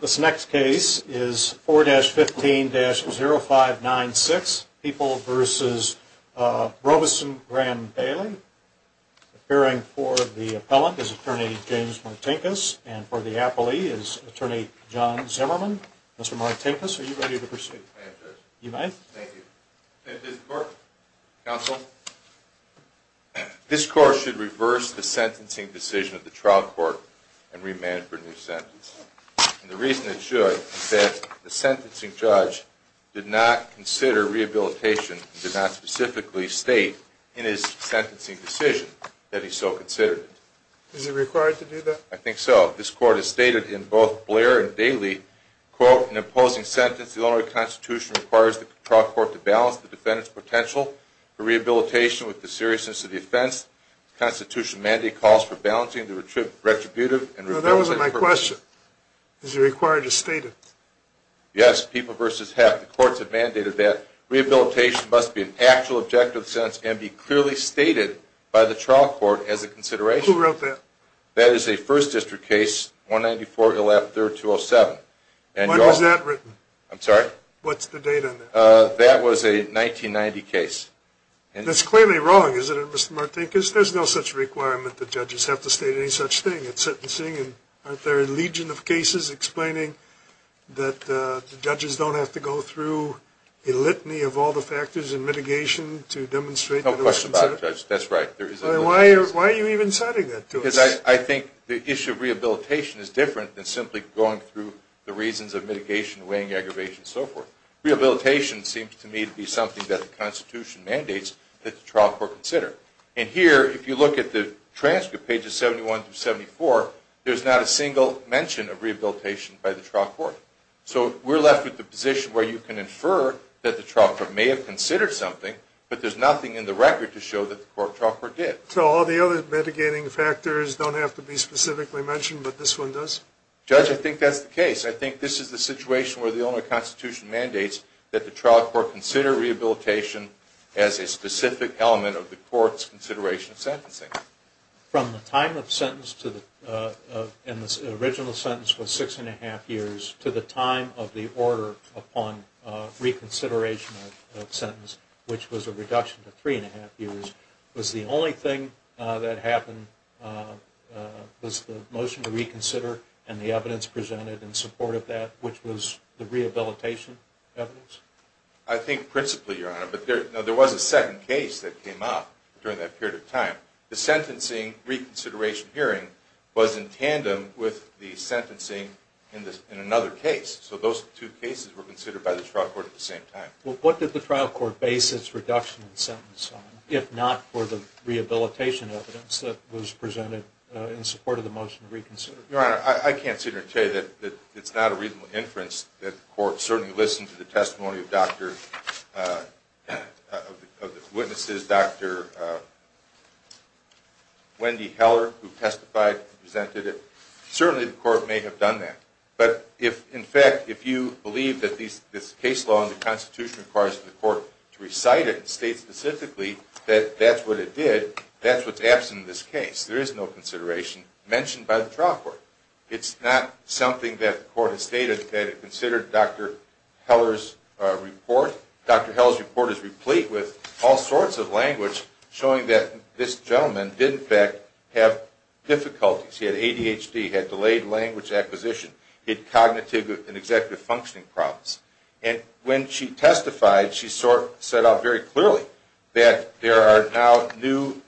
This next case is 4-15-0596, People v. Robeson-Braham-Bailey. Appearing for the appellant is Attorney James Martinkus, and for the appellee is Attorney John Zimmerman. Mr. Martinkus, are you ready to proceed? I am, Judge. You may. Thank you. This court should reverse the sentencing decision of the trial court and remand for a new sentence. The reason it should is that the sentencing judge did not consider rehabilitation, and did not specifically state in his sentencing decision that he so considered it. Is he required to do that? I think so. This court has stated in both Blair v. Bailey, quote, in the opposing sentence, the Illinois Constitution requires the trial court to balance the defendant's potential for rehabilitation with the seriousness of the offense. The Constitution mandate calls for balancing the retributive and referencing... No, that wasn't my question. Is he required to state it? Yes, People v. Heff. The courts have mandated that rehabilitation must be an actual objective of the sentence and be clearly stated by the trial court as a consideration. Who wrote that? That is a First District case, 194-307. When was that written? I'm sorry? What's the date on that? That was a 1990 case. That's clearly wrong, isn't it, Mr. Martinkus? There's no such requirement that judges have to state any such thing in sentencing. Aren't there a legion of cases explaining that judges don't have to go through a litany of all the factors and mitigation to demonstrate that it was considered? No question about it, Judge. That's right. Why are you even citing that to us? Because I think the issue of rehabilitation is different than simply going through the reasons of mitigation, weighing, aggravation, and so forth. Rehabilitation seems to me to be something that the Constitution mandates that the trial court consider. And here, if you look at the transcript, pages 71 through 74, there's not a single mention of rehabilitation by the trial court. So we're left with the position where you can infer that the trial court may have considered something, but there's nothing in the record to show that the court trial court did. So all the other mitigating factors don't have to be specifically mentioned, but this one does? Judge, I think that's the case. I think this is the situation where the only Constitution mandates that the trial court consider rehabilitation as a specific element of the court's consideration of sentencing. From the time of sentence to the original sentence was six and a half years, to the time of the order upon reconsideration of sentence, which was a reduction to three and a half years, was the only thing that happened was the motion to reconsider and the evidence presented in support of that, which was the rehabilitation evidence? I think principally, Your Honor, but there was a second case that came up during that period of time. The sentencing reconsideration hearing was in tandem with the sentencing in another case. So those two cases were considered by the trial court at the same time. Well, what did the trial court base its reduction in sentence on, if not for the rehabilitation evidence that was presented in support of the motion to reconsider? Your Honor, I can't sit here and tell you that it's not a reasonable inference that the court certainly listened to the testimony of the witnesses, Dr. Wendy Heller, who testified and presented it. Certainly, the court may have done that. But, in fact, if you believe that this case law and the Constitution requires the court to recite it and state specifically that that's what it did, that's what's absent in this case. There is no consideration mentioned by the trial court. It's not something that the court has stated that it considered Dr. Heller's report. Dr. Heller's report is replete with all sorts of language showing that this gentleman did, in fact, have difficulties. He had ADHD, had delayed language acquisition, had cognitive and executive functioning problems. And when she testified, she set out very clearly that there are now new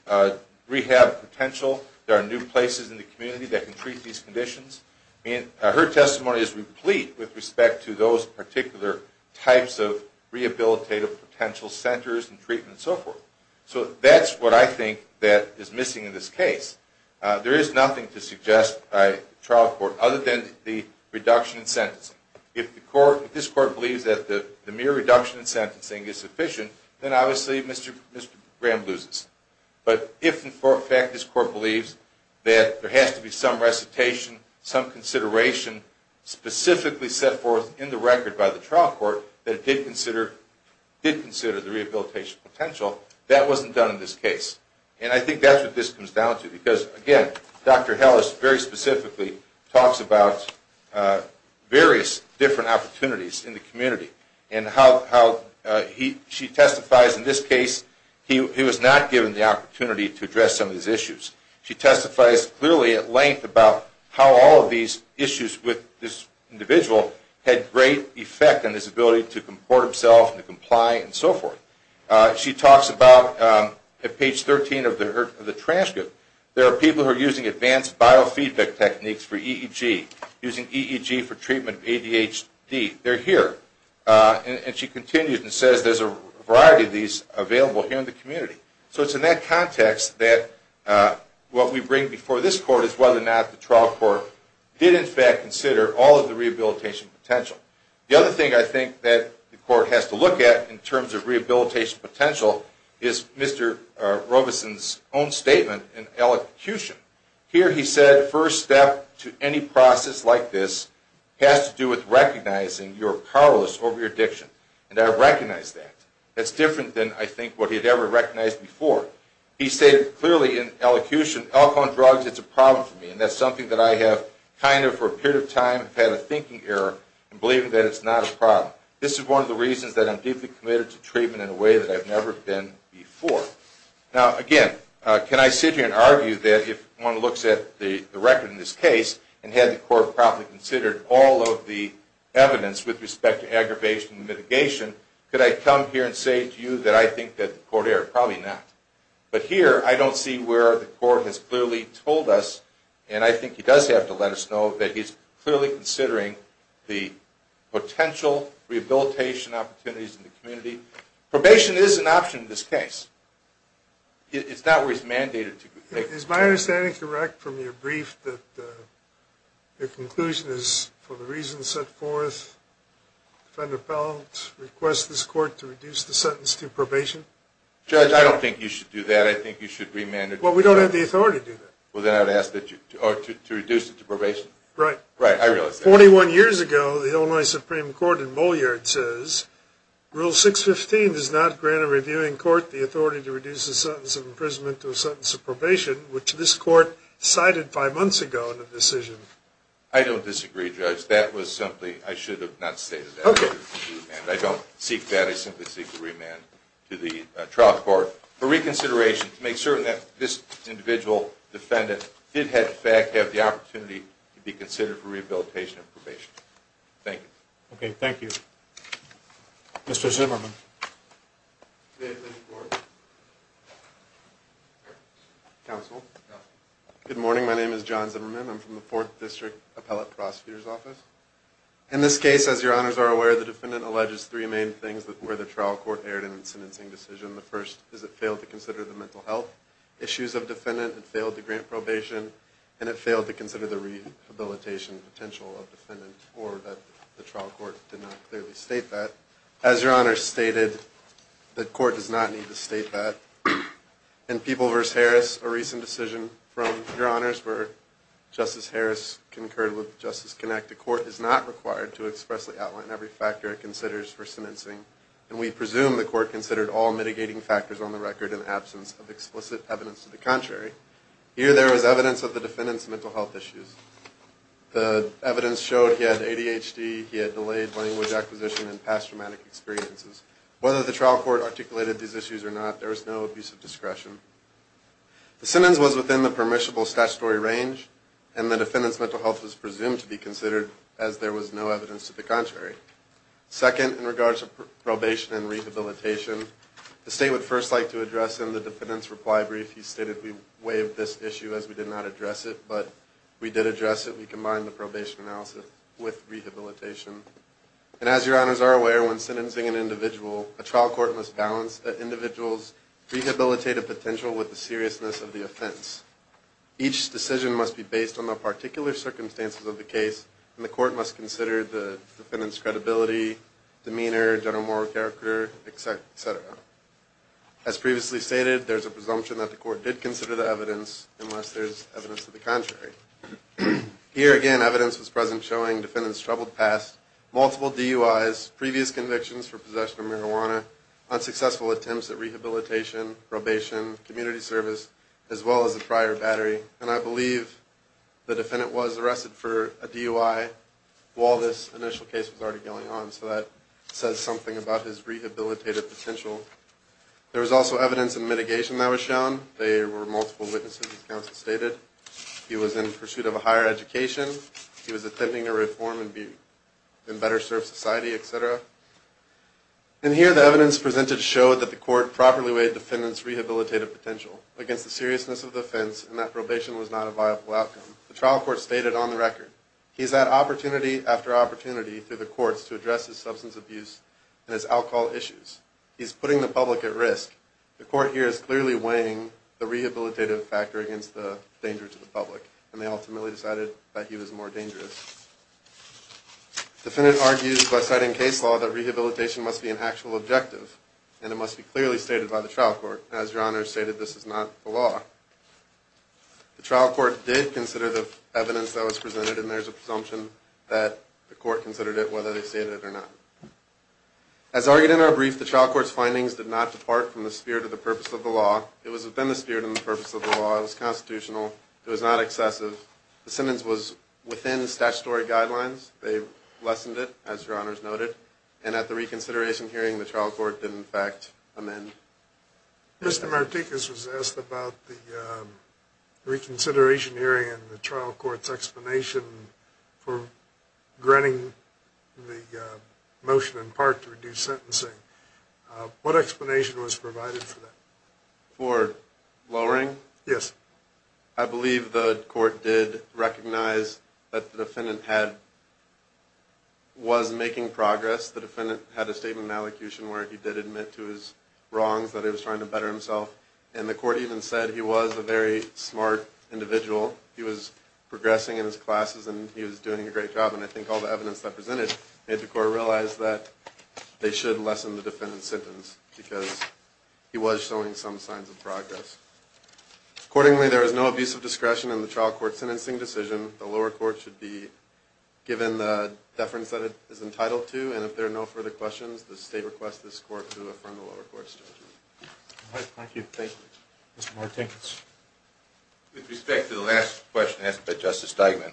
rehab potential, there are new places in the community that can treat these conditions. Her testimony is replete with respect to those particular types of rehabilitative potential centers and treatment and so forth. So that's what I think that is missing in this case. There is nothing to suggest by the trial court other than the reduction in sentencing. If this court believes that the mere reduction in sentencing is sufficient, then obviously Mr. Graham loses. But if, in fact, this court believes that there has to be some recitation, some consideration, specifically set forth in the record by the trial court that it did consider the rehabilitation potential, that wasn't done in this case. And I think that's what this comes down to. Because, again, Dr. Heller very specifically talks about various different opportunities in the community. And how she testifies in this case, he was not given the opportunity to address some of these issues. She testifies clearly at length about how all of these issues with this individual had great effect on his ability to comport himself, to comply, and so forth. She talks about, at page 13 of the transcript, there are people who are using advanced biofeedback techniques for EEG, using EEG for treatment of ADHD. They're here. And she continues and says there's a variety of these available here in the community. So it's in that context that what we bring before this court is whether or not the trial court did, in fact, consider all of the rehabilitation potential. The other thing I think that the court has to look at in terms of rehabilitation potential is Mr. Robeson's own statement in elocution. Here he said, first step to any process like this has to do with recognizing you're powerless over your addiction. And I recognize that. That's different than, I think, what he had ever recognized before. He stated clearly in elocution, alcohol and drugs, it's a problem for me. And that's something that I have kind of, for a period of time, had a thinking error in believing that it's not a problem. This is one of the reasons that I'm deeply committed to treatment in a way that I've never been before. Now, again, can I sit here and argue that if one looks at the record in this case and had the court probably considered all of the evidence with respect to aggravation and mitigation, could I come here and say to you that I think that the court erred? Probably not. But here I don't see where the court has clearly told us, and I think he does have to let us know, that he's clearly considering the potential rehabilitation opportunities in the community. Probation is an option in this case. It's not where he's mandated to make it. Is my understanding correct from your brief that the conclusion is, for the reasons set forth, defendant appellant requests this court to reduce the sentence to probation? Judge, I don't think you should do that. I think you should remand it. Well, we don't have the authority to do that. Well, then I'd ask that you, or to reduce it to probation. Right. Right, I realize that. Forty-one years ago, the Illinois Supreme Court in Moliard says, Rule 615 does not grant a reviewing court the authority to reduce the sentence of imprisonment to a sentence of probation, which this court cited five months ago in a decision. I don't disagree, Judge. That was simply, I should have not stated that. I don't seek that. I simply seek a remand to the trial court for reconsideration to make certain that this individual defendant did, in fact, have the opportunity to be considered for rehabilitation and probation. Thank you. Okay, thank you. Mr. Zimmerman. May I please report? Counsel. Counsel. Good morning. My name is John Zimmerman. I'm from the Fourth District Appellate Prosecutor's Office. In this case, as your honors are aware, the defendant alleges three main things where the trial court erred in its sentencing decision. The first is it failed to consider the mental health issues of defendant and failed to grant probation, and it failed to consider the rehabilitation potential of defendant or that the trial court did not clearly state that. As your honors stated, the court does not need to state that. In People v. Harris, a recent decision from your honors where Justice Harris concurred with Justice Kinect, the court is not required to expressly outline every factor it considers for sentencing, and we presume the court considered all mitigating factors on the record in the absence of explicit evidence to the contrary. Here there is evidence of the defendant's mental health issues. The evidence showed he had ADHD, he had delayed language acquisition, and past traumatic experiences. Whether the trial court articulated these issues or not, there is no abuse of discretion. The sentence was within the permissible statutory range, and the defendant's mental health was presumed to be considered as there was no evidence to the contrary. Second, in regards to probation and rehabilitation, the state would first like to address in the defendant's reply brief. He stated we waived this issue as we did not address it, but we did address it. We combined the probation analysis with rehabilitation. And as your honors are aware, when sentencing an individual, a trial court must balance the individual's rehabilitative potential with the seriousness of the offense. Each decision must be based on the particular circumstances of the case, and the court must consider the defendant's credibility, demeanor, general moral character, etc. As previously stated, there is a presumption that the court did consider the evidence, unless there is evidence to the contrary. Here again evidence was present showing the defendant's troubled past, multiple DUIs, previous convictions for possession of marijuana, unsuccessful attempts at rehabilitation, probation, community service, as well as a prior battery. And I believe the defendant was arrested for a DUI while this initial case was already going on, so that says something about his rehabilitative potential. There was also evidence in mitigation that was shown. There were multiple witnesses, as counsel stated. He was in pursuit of a higher education. He was attempting to reform and better serve society, etc. And here the evidence presented showed that the court properly weighed the defendant's rehabilitative potential against the seriousness of the offense, and that probation was not a viable outcome. The trial court stated on the record, he's had opportunity after opportunity through the courts to address his substance abuse and his alcohol issues. He's putting the public at risk. The court here is clearly weighing the rehabilitative factor against the danger to the public, and they ultimately decided that he was more dangerous. The defendant argues by citing case law that rehabilitation must be an actual objective, and it must be clearly stated by the trial court. As Your Honors stated, this is not the law. The trial court did consider the evidence that was presented, and there's a presumption that the court considered it whether they stated it or not. As argued in our brief, the trial court's findings did not depart from the spirit of the purpose of the law. It was within the spirit and the purpose of the law. It was constitutional. It was not excessive. The sentence was within statutory guidelines. They lessened it, as Your Honors noted. And at the reconsideration hearing, the trial court did in fact amend. Mr. Martinez was asked about the reconsideration hearing and the trial court's explanation for granting the motion in part to reduce sentencing. What explanation was provided for that? For lowering? Yes. I believe the court did recognize that the defendant was making progress. The defendant had a statement of malecution where he did admit to his wrongs, that he was trying to better himself. And the court even said he was a very smart individual. He was progressing in his classes, and he was doing a great job. And I think all the evidence that was presented made the court realize that they should lessen the defendant's sentence because he was showing some signs of progress. Accordingly, there is no abuse of discretion in the trial court's sentencing decision. The lower court should be given the deference that it is entitled to, and if there are no further questions, the State requests this court to affirm the lower court's judgment. All right. Thank you. Thank you. Mr. Martinez. With respect to the last question asked by Justice Steigman,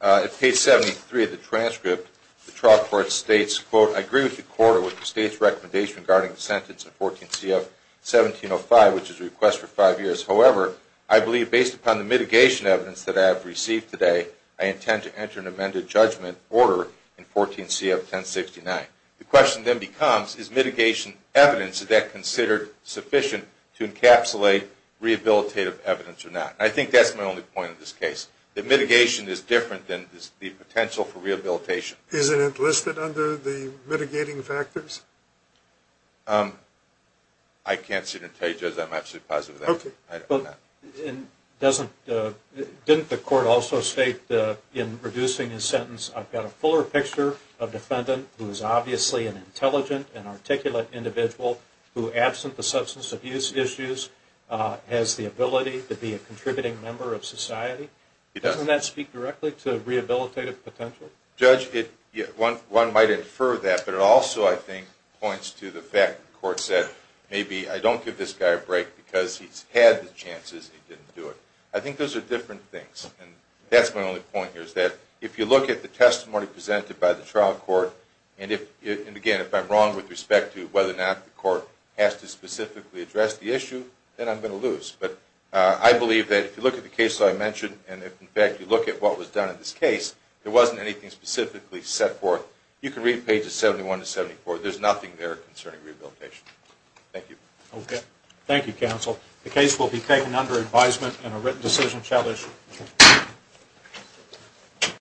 at page 73 of the transcript, the trial court states, quote, I agree with the court with the State's recommendation regarding the sentence in 14 CF 1705, which is a request for five years. However, I believe based upon the mitigation evidence that I have received today, I intend to enter an amended judgment order in 14 CF 1069. The question then becomes, is mitigation evidence, is that considered sufficient to encapsulate rehabilitative evidence or not? I think that's my only point in this case, that mitigation is different than the potential for rehabilitation. Judge, is it enlisted under the mitigating factors? I can't sit here and tell you, Judge. I'm absolutely positive of that. Okay. Didn't the court also state in reducing his sentence, I've got a fuller picture of defendant who is obviously an intelligent and articulate individual who, absent the substance abuse issues, has the ability to be a contributing member of society? He does. Doesn't that speak directly to rehabilitative potential? Judge, one might infer that, but it also I think points to the fact that the court said maybe I don't give this guy a break because he's had the chances and he didn't do it. I think those are different things, and that's my only point here is that if you look at the testimony presented by the trial court, and again, if I'm wrong with respect to whether or not the court has to specifically address the issue, then I'm going to lose. But I believe that if you look at the cases I mentioned, and in fact you look at what was done in this case, there wasn't anything specifically set forth. You can read pages 71 to 74. There's nothing there concerning rehabilitation. Thank you. Okay. Thank you, counsel. The case will be taken under advisement and a written decision shall issue.